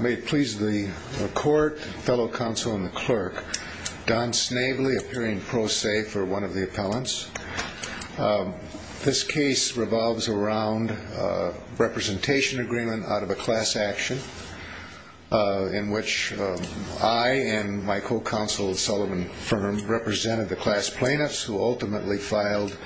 May it please the court, fellow counsel, and the clerk. Don Snavely, appearing pro se for one of the appellants. This case revolves around a representation agreement out of a class action in which I and my co-counsel Sullivan Fern represented the class plaintiffs who ultimately filed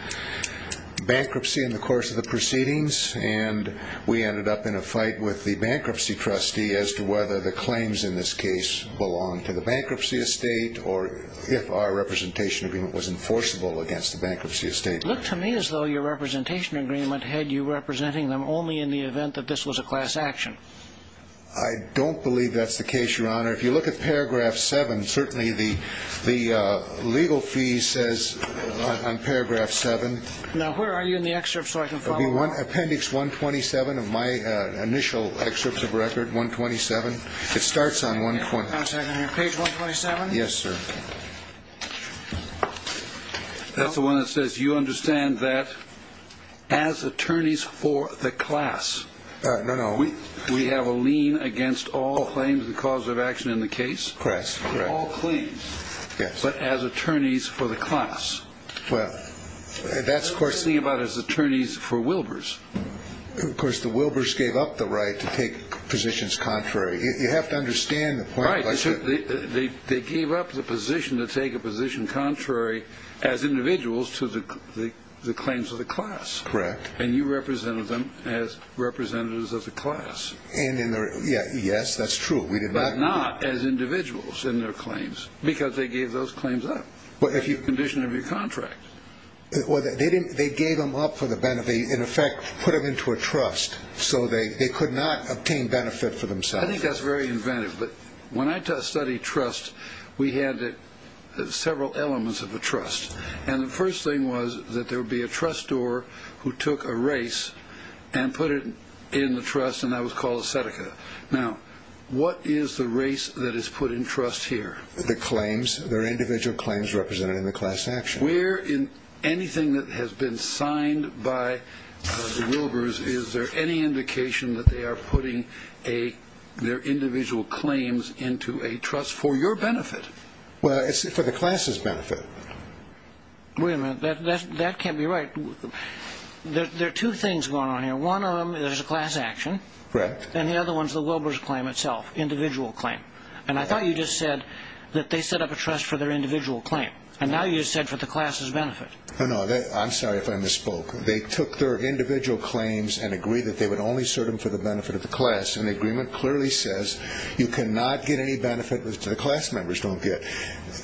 bankruptcy in the course of the proceedings and we ended up in a fight with the bankruptcy trustee as to whether the claims in this case belong to the bankruptcy estate or if our representation agreement was enforceable against the bankruptcy estate. Look to me as though your representation agreement had you representing them only in the event that this was a class action. I don't believe that's the case, your honor. If you look at paragraph seven, certainly the the legal fee says on paragraph seven. Now, where are you in the excerpt so I can find one appendix one twenty seven of my initial excerpts of record one twenty seven. It starts on one point. Page one twenty seven. Yes, sir. That's the one that says you understand that as attorneys for the class. No, no. We have a lien against all claims, the cause of action in the case. Correct. Correct. All claims. Yes. But as attorneys for the class. Well, that's the thing about his attorneys for Wilbur's. Of course, the Wilbur's gave up the right to take positions contrary. You have to understand the point. They gave up the position to take a position contrary as individuals to the claims of the class. Correct. And you represented them as representatives of the class. And yes, that's true. We did not as individuals in their claims because they gave those claims up. But if you condition of your contract or they didn't, they gave them up for the benefit, in effect, put them into a trust. So they could not obtain benefit for themselves. I think that's very inventive. But when I study trust, we had several elements of a trust. And the first thing was that there would be a trust store who took a race and put it in the trust. And that was called Seneca. Now, what is the race that is put in trust here? The claims, their individual claims represented in the class action. We're in anything that has been signed by Wilbur's. Is there any indication that they are putting a their individual claims into a trust for your benefit? Well, it's for the class's benefit. Women that that can't be right. There are two things going on here. One of them is a class action. And the other one's the Wilbur's claim itself, individual claim. And I thought you just said that they set up a trust for their individual claim. And now you said for the class's benefit. Oh, no, I'm sorry if I misspoke. They took their individual claims and agreed that they would only serve them for the benefit of the class. And the agreement clearly says you cannot get any benefit with the class members don't get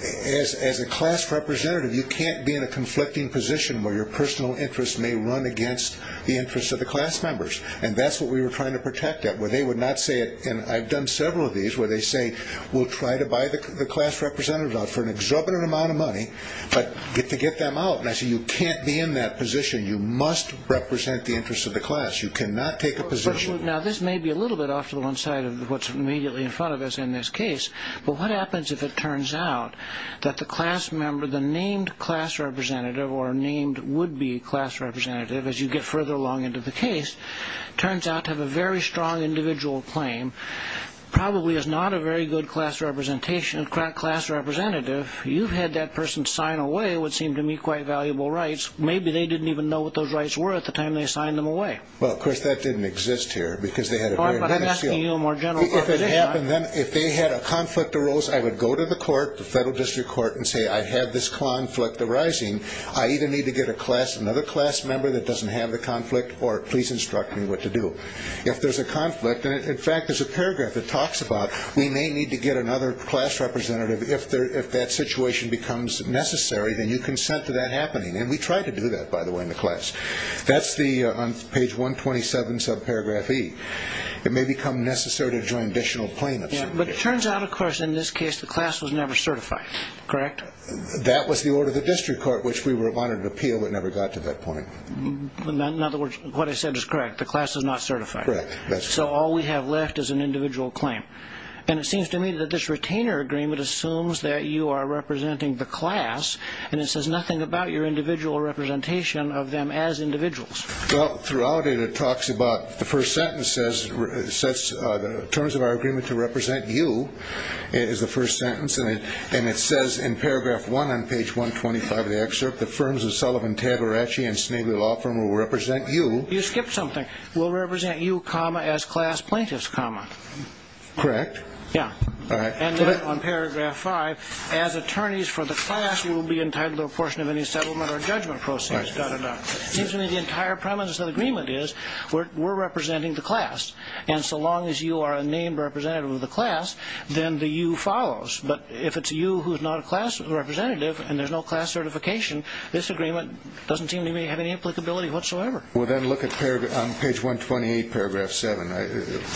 as a class representative. You can't be in a conflicting position where your personal interests may run against the interests of the class members. And that's what we were trying to protect that where they would not say it. And I've done several of these where they say we'll try to buy the class representative out for an exorbitant amount of money, but get to get them out. And I say you can't be in that position. You must represent the interests of the class. You cannot take a position. Now, this may be a little bit off to the one side of what's immediately in front of us in this case. But what happens if it turns out that the class member, the named class representative or named would be class representative, as you get further along into the case, turns out to have a very strong individual claim, probably is not a very good class representation and class representative. You've had that person sign away what seemed to me quite valuable rights. Maybe they didn't even know what those rights were at the time they signed them away. Well, of course, that didn't exist here because they had a more general. If it happened, then if they had a conflict arose, I would go to the court, the federal district court and say, I have this conflict arising. I either need to get a class, another class member that doesn't have the conflict or please instruct me what to do if there's a conflict. And in fact, there's a paragraph that talks about we may need to get another class representative if that situation becomes necessary. Then you consent to that happening. And we try to do that, by the way, in the class. That's the page one twenty seven sub paragraph B. It may become necessary to join additional plaintiffs. But it turns out, of course, in this case, the class was never certified. Correct. That was the order of the district court, which we were a modern appeal. It never got to that point. In other words, what I said is correct. The class is not certified. So all we have left is an individual claim. And it seems to me that this retainer agreement assumes that you are representing the class. And it says nothing about your individual representation of them as individuals. Well, throughout it, it talks about the first sentence says such terms of our agreement to represent you. It is the first sentence. And it says in paragraph one on page one, twenty five of the excerpt, the firms of Sullivan, Tagore and Schnabel law firm will represent you. You skipped something. Will represent you, comma, as class plaintiffs, comma. Correct. Yeah. All right. And then on paragraph five, as attorneys for the class, we will be entitled to a portion of any settlement or judgment process. Got it. Seems to me the entire premise of the agreement is we're representing the class. And so long as you are a named representative of the class, then the you follows. But if it's you who is not a class representative and there's no class certification, this agreement doesn't seem to have any applicability whatsoever. Well, then look at paragraph on page one, twenty eight, paragraph seven.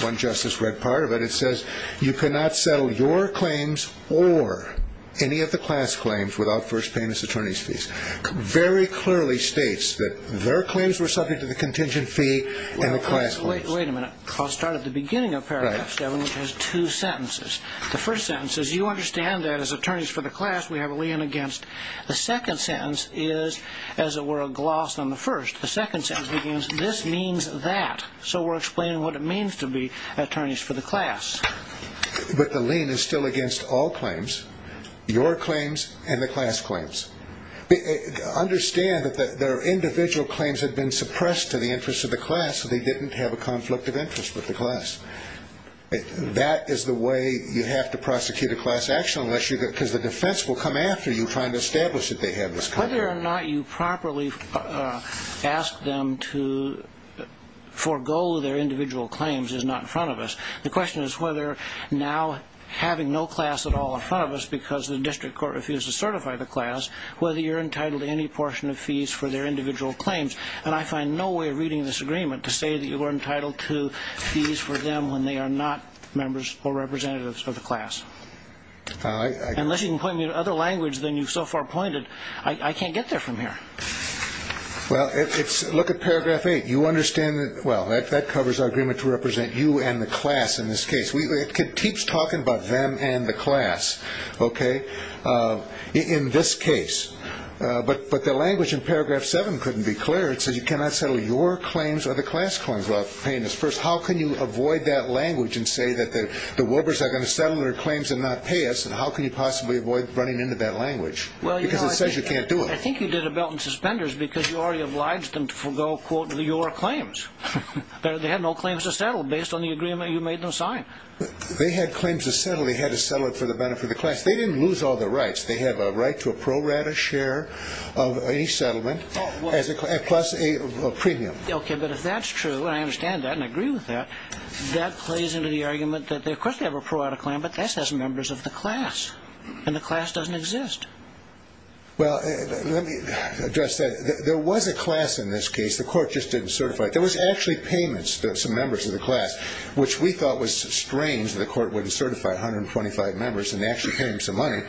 One justice read part of it. It says you cannot settle your claims or any of the class claims without first payments. Attorney's fees very clearly states that their claims were subject to the contingent fee. Well, wait a minute. I'll start at the beginning of paragraph seven, which has two sentences. The first sentence is you understand that as attorneys for the class, we have a lien against. The second sentence is, as it were, a gloss on the first. The second sentence begins, this means that. So we're explaining what it means to be attorneys for the class. But the lien is still against all claims, your claims and the class claims. Understand that their individual claims had been suppressed to the interest of the class. They didn't have a conflict of interest with the class. That is the way you have to prosecute a class action unless you because the defense will come after you find established that they have this. Whether or not you properly ask them to forego their individual claims is not in front of us. The question is whether now having no class at all in front of us because the district court refused to certify the class, whether you're entitled to any portion of fees for their individual claims. And I find no way of reading this agreement to say that you are entitled to fees for them when they are not members or representatives of the class. I unless you can point me to other language than you've so far pointed, I can't get there from here. Well, it's look at paragraph eight. You understand that. Well, that covers our agreement to represent you and the class. In this case, we could keep talking about them and the class. OK. In this case. But but the language in paragraph seven couldn't be clear. It says you cannot settle your claims or the class claims while paying us first. How can you avoid that language and say that the the workers are going to settle their claims and not pay us? And how can you possibly avoid running into that language? Well, because it says you can't do it. I think you did a belt and suspenders because you already obliged them to forego, quote, your claims. They had no claims to settle based on the agreement you made them sign. They had claims to settle. They had to settle it for the benefit of the class. They didn't lose all the rights. They have a right to a pro rata share of a settlement as a plus a premium. OK, but if that's true and I understand that and agree with that, that plays into the argument that they have a pro rata claim, but this has members of the class and the class doesn't exist. Well, let me address that. There was a class in this case. The court just didn't certify it. There was actually payments to some members of the class, which we thought was strange that the court wouldn't certify one hundred twenty five members and actually pay him some money.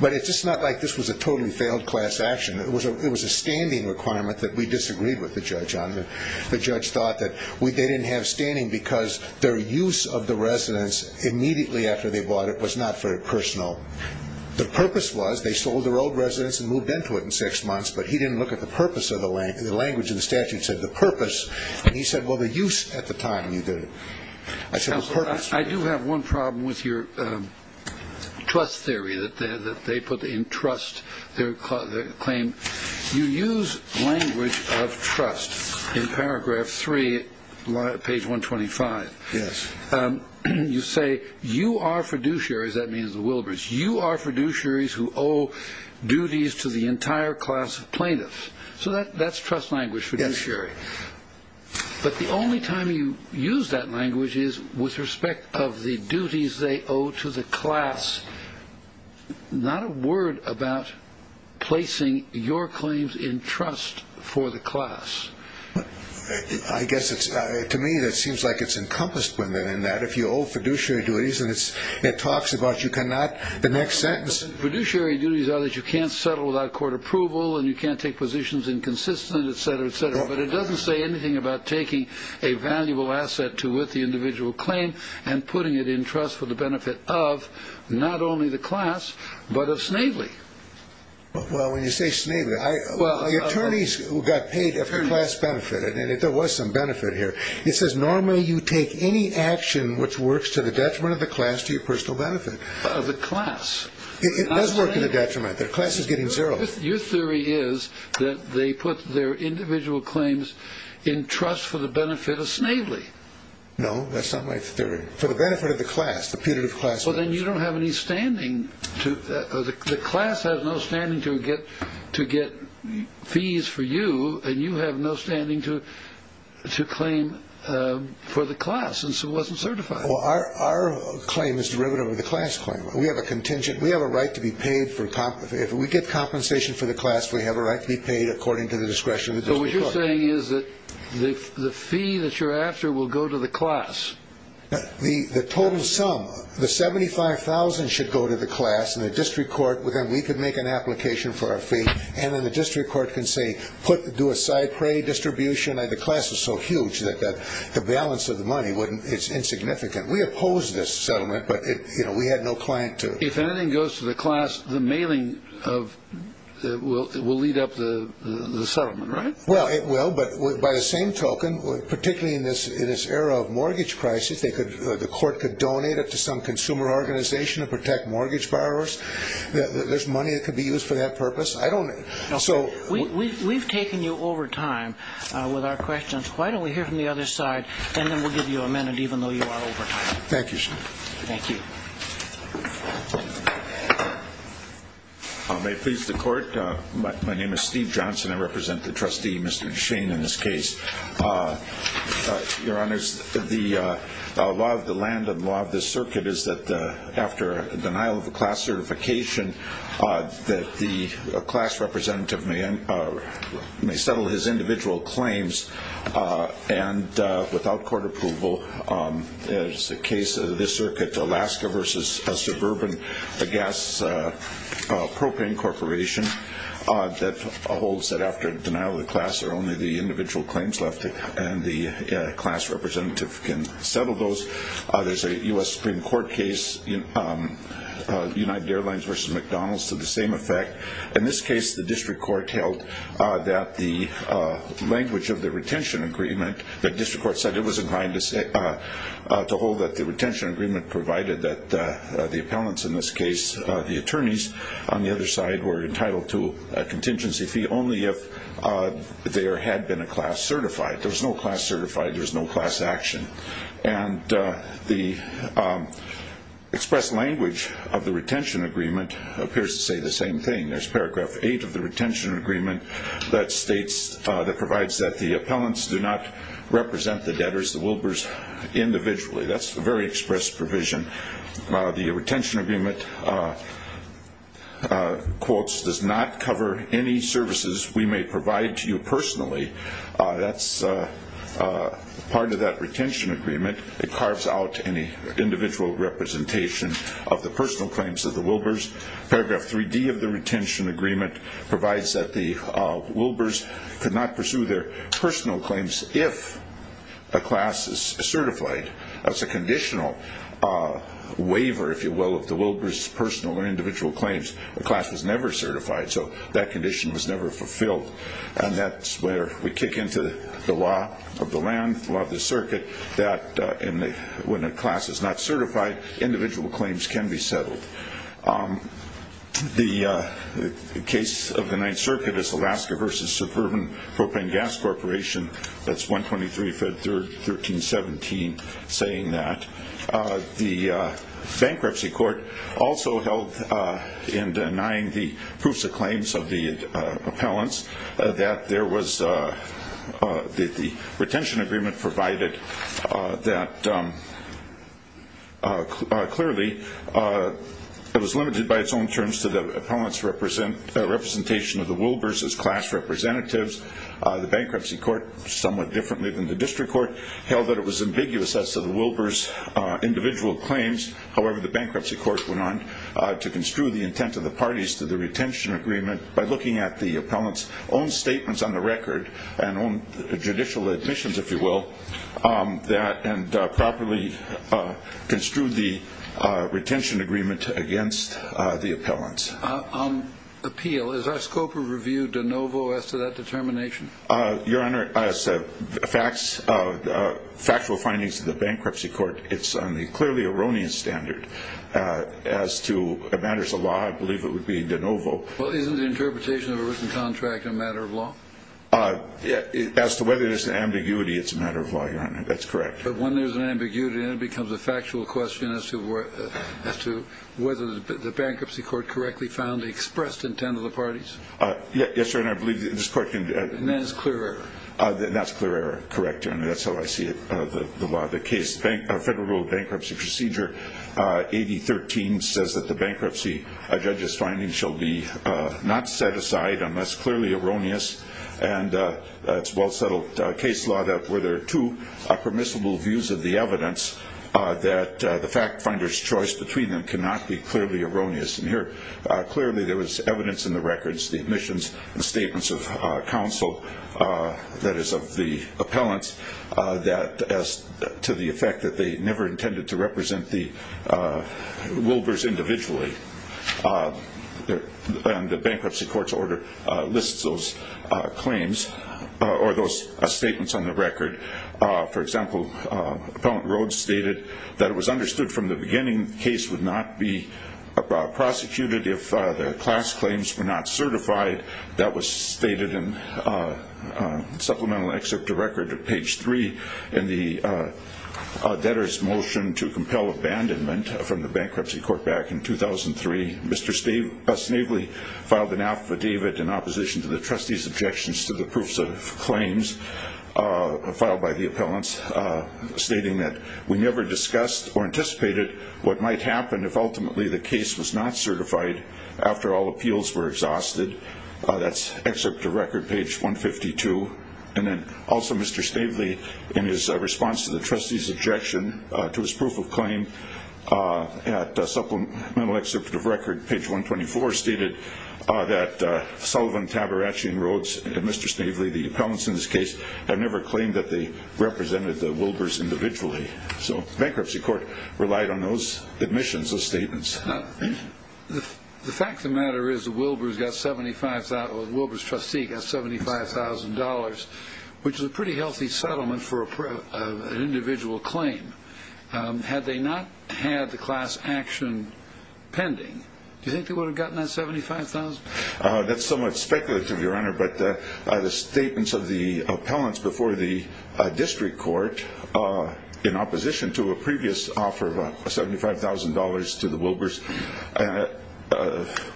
But it's just not like this was a totally failed class action. It was a it was a standing requirement that we disagreed with the judge on. The judge thought that they didn't have standing because their use of the residence immediately after they bought it was not very personal. The purpose was they sold their old residence and moved into it in six months. But he didn't look at the purpose of the language. The language of the statute said the purpose. He said, well, the use at the time you did it. I do have one problem with your trust theory that they put in trust. Their claim. You use language of trust in paragraph three, page one, twenty five. Yes. You say you are fiduciary. That means the Wilbur's. You are fiduciaries who owe duties to the entire class of plaintiffs. So that's trust language for judiciary. But the only time you use that language is with respect of the duties they owe to the class. Not a word about placing your claims in trust for the class. I guess it's to me that seems like it's encompassed within that if you owe fiduciary duties and it's it talks about you cannot the next sentence fiduciary duties are that you can't settle without court approval and you can't take positions inconsistent, et cetera, et cetera. But it doesn't say anything about taking a valuable asset to with the individual claim and putting it in trust for the benefit of not only the class, but of Snavely. Well, when you say Snavely, well, the attorneys who got paid class benefit and there was some benefit here. It says normally you take any action which works to the detriment of the class to your personal benefit of the class. It does work in a detriment. Their class is getting zero. Your theory is that they put their individual claims in trust for the benefit of Snavely. No, that's not my theory for the benefit of the class, the punitive class. Well, then you don't have any standing to the class has no standing to get to get fees for you. And you have no standing to to claim for the class. Well, our our claim is derivative of the class claim. We have a contingent. We have a right to be paid for. If we get compensation for the class, we have a right to be paid according to the discretion. So what you're saying is that the fee that you're after will go to the class. The total sum, the seventy five thousand should go to the class and the district court within. We could make an application for a fee and then the district court can say put do a side prey distribution. The class is so huge that the balance of the money wouldn't it's insignificant. We oppose this settlement, but we had no client to. If anything goes to the class, the mailing of it will lead up to the settlement. Right. Well, it will. But by the same token, particularly in this in this era of mortgage crisis, they could the court could donate it to some consumer organization to protect mortgage borrowers. There's money that could be used for that purpose. I don't know. So we've taken you over time with our questions. Why don't we hear from the other side and then we'll give you a minute, even though you are over. Thank you. Thank you. May it please the court. My name is Steve Johnson. I represent the trustee, Mr. Shane, in this case. Your Honor, the law of the land and law of the circuit is that after the denial of the class certification, that the class representative may and may settle his individual claims. And without court approval, it's the case of this circuit, Alaska versus a suburban gas propane corporation. That holds that after denial of the class are only the individual claims left. And the class representative can settle those. There's a U.S. Supreme Court case, United Airlines versus McDonald's to the same effect. In this case, the district court held that the language of the retention agreement, the district court said it was inclined to hold that the retention agreement provided that the appellants in this case, the attorneys on the other side were entitled to a contingency fee only if there had been a class certified. There was no class certified. There was no class action. And the express language of the retention agreement appears to say the same thing. There's paragraph eight of the retention agreement that states, that provides that the appellants do not represent the debtors, the Wilbers, individually. That's a very express provision. The retention agreement, quotes, does not cover any services we may provide to you personally. That's part of that retention agreement. It carves out any individual representation of the personal claims of the Wilbers. Paragraph 3D of the retention agreement provides that the Wilbers could not pursue their personal claims if a class is certified. That's a conditional waiver, if you will, of the Wilbers' personal or individual claims. The class was never certified, so that condition was never fulfilled. And that's where we kick into the law of the land, the law of the circuit, that when a class is not certified, individual claims can be settled. The case of the Ninth Circuit is Alaska v. Suburban Propane Gas Corporation. That's 123 Fed 1317 saying that. The bankruptcy court also held in denying the proofs of claims of the appellants that the retention agreement provided that clearly it was limited by its own terms to the appellants' representation of the Wilbers as class representatives. The bankruptcy court, somewhat differently than the district court, held that it was ambiguous as to the Wilbers' individual claims. However, the bankruptcy court went on to construe the intent of the parties to the retention agreement by looking at the appellants' own statements on the record and own judicial admissions, if you will, and properly construed the retention agreement against the appellants. Appeal, is our scope of review de novo as to that determination? Your Honor, facts, factual findings of the bankruptcy court, it's on the clearly erroneous standard as to matters of law. I believe it would be de novo. Well, isn't the interpretation of a written contract a matter of law? As to whether there's an ambiguity, it's a matter of law, Your Honor. That's correct. But when there's an ambiguity, then it becomes a factual question as to whether the bankruptcy court correctly found the expressed intent of the parties? Yes, Your Honor. And that is clear error? That's clear error, correct, Your Honor. That's how I see it, the law of the case. Federal bankruptcy procedure 8013 says that the bankruptcy judge's findings shall be not set aside unless clearly erroneous. And it's well-settled case law that where there are two permissible views of the evidence, that the fact finder's choice between them cannot be clearly erroneous. And here clearly there was evidence in the records, the admissions, the statements of counsel, that is of the appellants, to the effect that they never intended to represent the Wilbers individually. And the bankruptcy court's order lists those claims or those statements on the record. For example, Appellant Rhodes stated that it was understood from the beginning that the same case would not be prosecuted if the class claims were not certified. That was stated in supplemental excerpt to record, page 3, in the debtor's motion to compel abandonment from the bankruptcy court back in 2003. Mr. Snevely filed an affidavit in opposition to the trustee's objections to the proofs of claims filed by the appellants, stating that we never discussed or anticipated what might happen if ultimately the case was not certified after all appeals were exhausted. That's excerpt to record, page 152. And then also Mr. Snevely, in his response to the trustee's objection to his proof of claim, at supplemental excerpt to record, page 124, stated that Sullivan, Tabarachian, Rhodes, and Mr. Snevely, the appellants in this case, have never claimed that they represented the Wilbers individually. So the bankruptcy court relied on those admissions, those statements. The fact of the matter is the Wilbers got $75,000, the Wilbers trustee got $75,000, which is a pretty healthy settlement for an individual claim. Had they not had the class action pending, do you think they would have gotten that $75,000? That's somewhat speculative, Your Honor, but the statements of the appellants before the district court in opposition to a previous offer of $75,000 to the Wilbers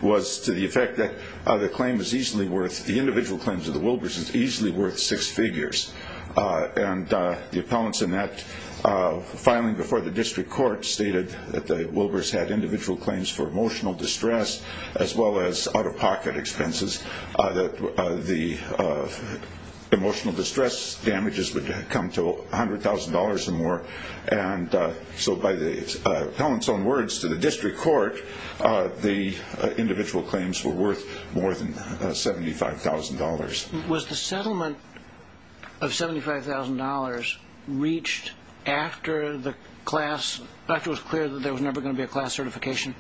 was to the effect that the claim is easily worth, the individual claims of the Wilbers is easily worth six figures. And the appellants in that filing before the district court stated that the Wilbers had individual claims for emotional distress as well as out-of-pocket expenses, that the emotional distress damages would come to $100,000 or more. And so by the appellants' own words to the district court, the individual claims were worth more than $75,000. Was the settlement of $75,000 reached after the class, after it was clear that there was never going to be a class certification?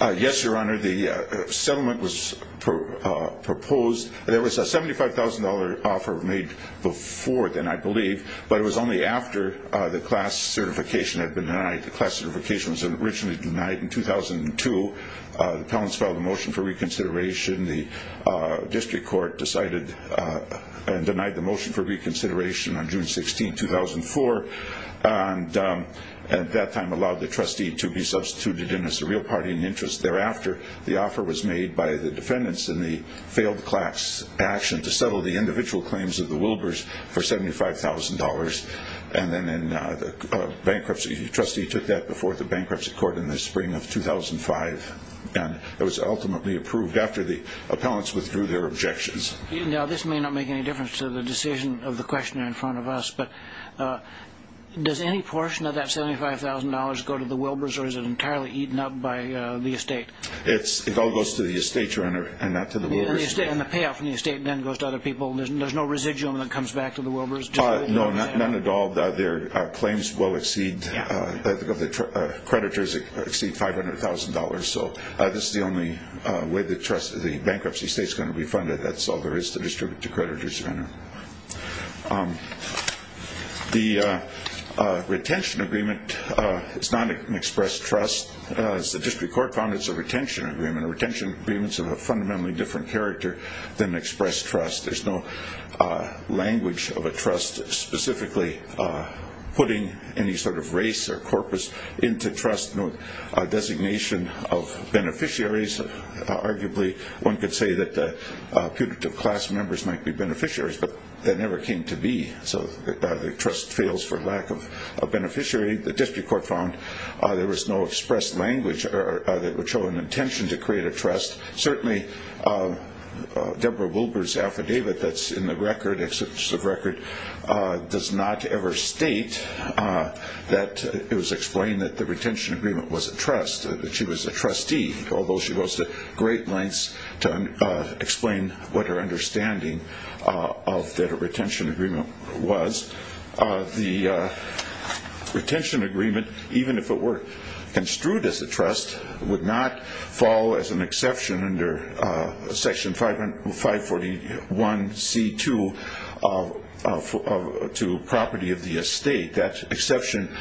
Yes, Your Honor, the settlement was proposed. There was a $75,000 offer made before then, I believe, but it was only after the class certification had been denied. The class certification was originally denied in 2002. The appellants filed a motion for reconsideration. The district court decided and denied the motion for reconsideration on June 16, 2004, and at that time allowed the trustee to be substituted in as a real party in interest. Thereafter, the offer was made by the defendants in the failed class action to settle the individual claims of the Wilbers for $75,000. And then the trustee took that before the bankruptcy court in the spring of 2005, and it was ultimately approved after the appellants withdrew their objections. Now, this may not make any difference to the decision of the questioner in front of us, but does any portion of that $75,000 go to the Wilbers, or is it entirely eaten up by the estate? It all goes to the estate, Your Honor, and not to the Wilbers. And the payout from the estate then goes to other people? There's no residuum that comes back to the Wilbers? No, none at all. Their claims will exceed, the creditors exceed $500,000. So this is the only way the bankruptcy estate is going to be funded. That's all there is to distribute to creditors, Your Honor. The retention agreement is not an express trust. As the district court found, it's a retention agreement. A retention agreement is of a fundamentally different character than an express trust. There's no language of a trust, specifically putting any sort of race or corpus into trust, no designation of beneficiaries. Arguably, one could say that putative class members might be beneficiaries, but that never came to be. So the trust fails for lack of a beneficiary. The district court found there was no express language that would show an intention to create a trust. Certainly, Deborah Wilber's affidavit that's in the record, exception of record, does not ever state that it was explained that the retention agreement was a trust, that she was a trustee, although she goes to great lengths to explain what her understanding of the retention agreement was. The retention agreement, even if it were construed as a trust, would not fall as an exception under Section 541C2 to property of the estate. That exception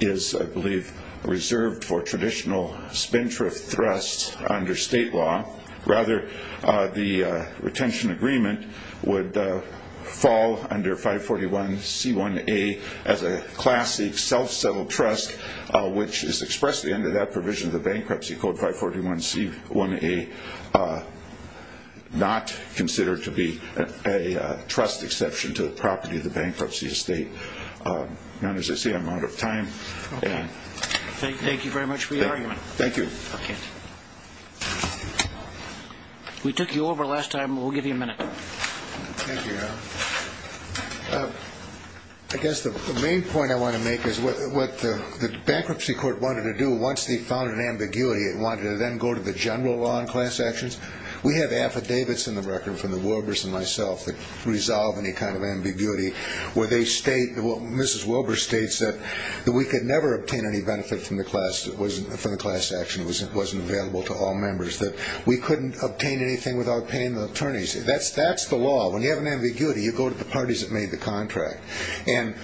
is, I believe, reserved for traditional spin-thrift trusts under state law. Rather, the retention agreement would fall under 541C1A as a classic self-settled trust, which is expressed under that provision of the bankruptcy code, 541C1A, not considered to be a trust exception to the property of the bankruptcy estate. As I say, I'm out of time. Thank you very much for your argument. Thank you. We took you over last time. We'll give you a minute. Thank you. I guess the main point I want to make is what the bankruptcy court wanted to do once they found an ambiguity, it wanted to then go to the general law on class actions. We have affidavits in the record from the Wilbers and myself that resolve any kind of ambiguity where they state, Mrs. Wilbers states, that we could never obtain any benefit from the class action. It wasn't available to all members. We couldn't obtain anything without paying the attorneys. That's the law. When you have an ambiguity, you go to the parties that made the contract. And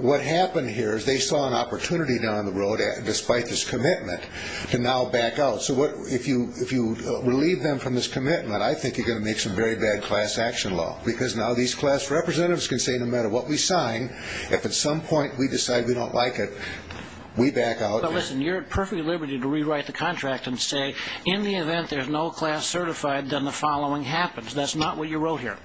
what happened here is they saw an opportunity down the road, despite this commitment, to now back out. So if you relieve them from this commitment, I think you're going to make some very bad class action law because now these class representatives can say no matter what we sign, if at some point we decide we don't like it, we back out. But listen, you're at perfect liberty to rewrite the contract and say, in the event there's no class certified, then the following happens. That's not what you wrote here.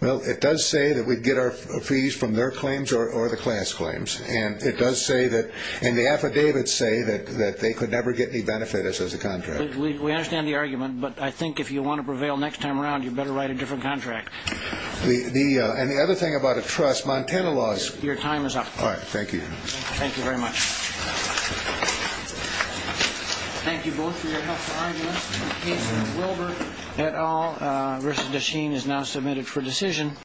Well, it does say that we'd get our fees from their claims or the class claims. And it does say that, and the affidavits say that they could never get any benefit as a contract. We understand the argument, but I think if you want to prevail next time around, you better write a different contract. And the other thing about a trust, Montana laws. Your time is up. All right, thank you. Thank you very much. Thank you both for your helpful arguments. In the case of Wilbur et al., Risa Desheen is now submitted for decision.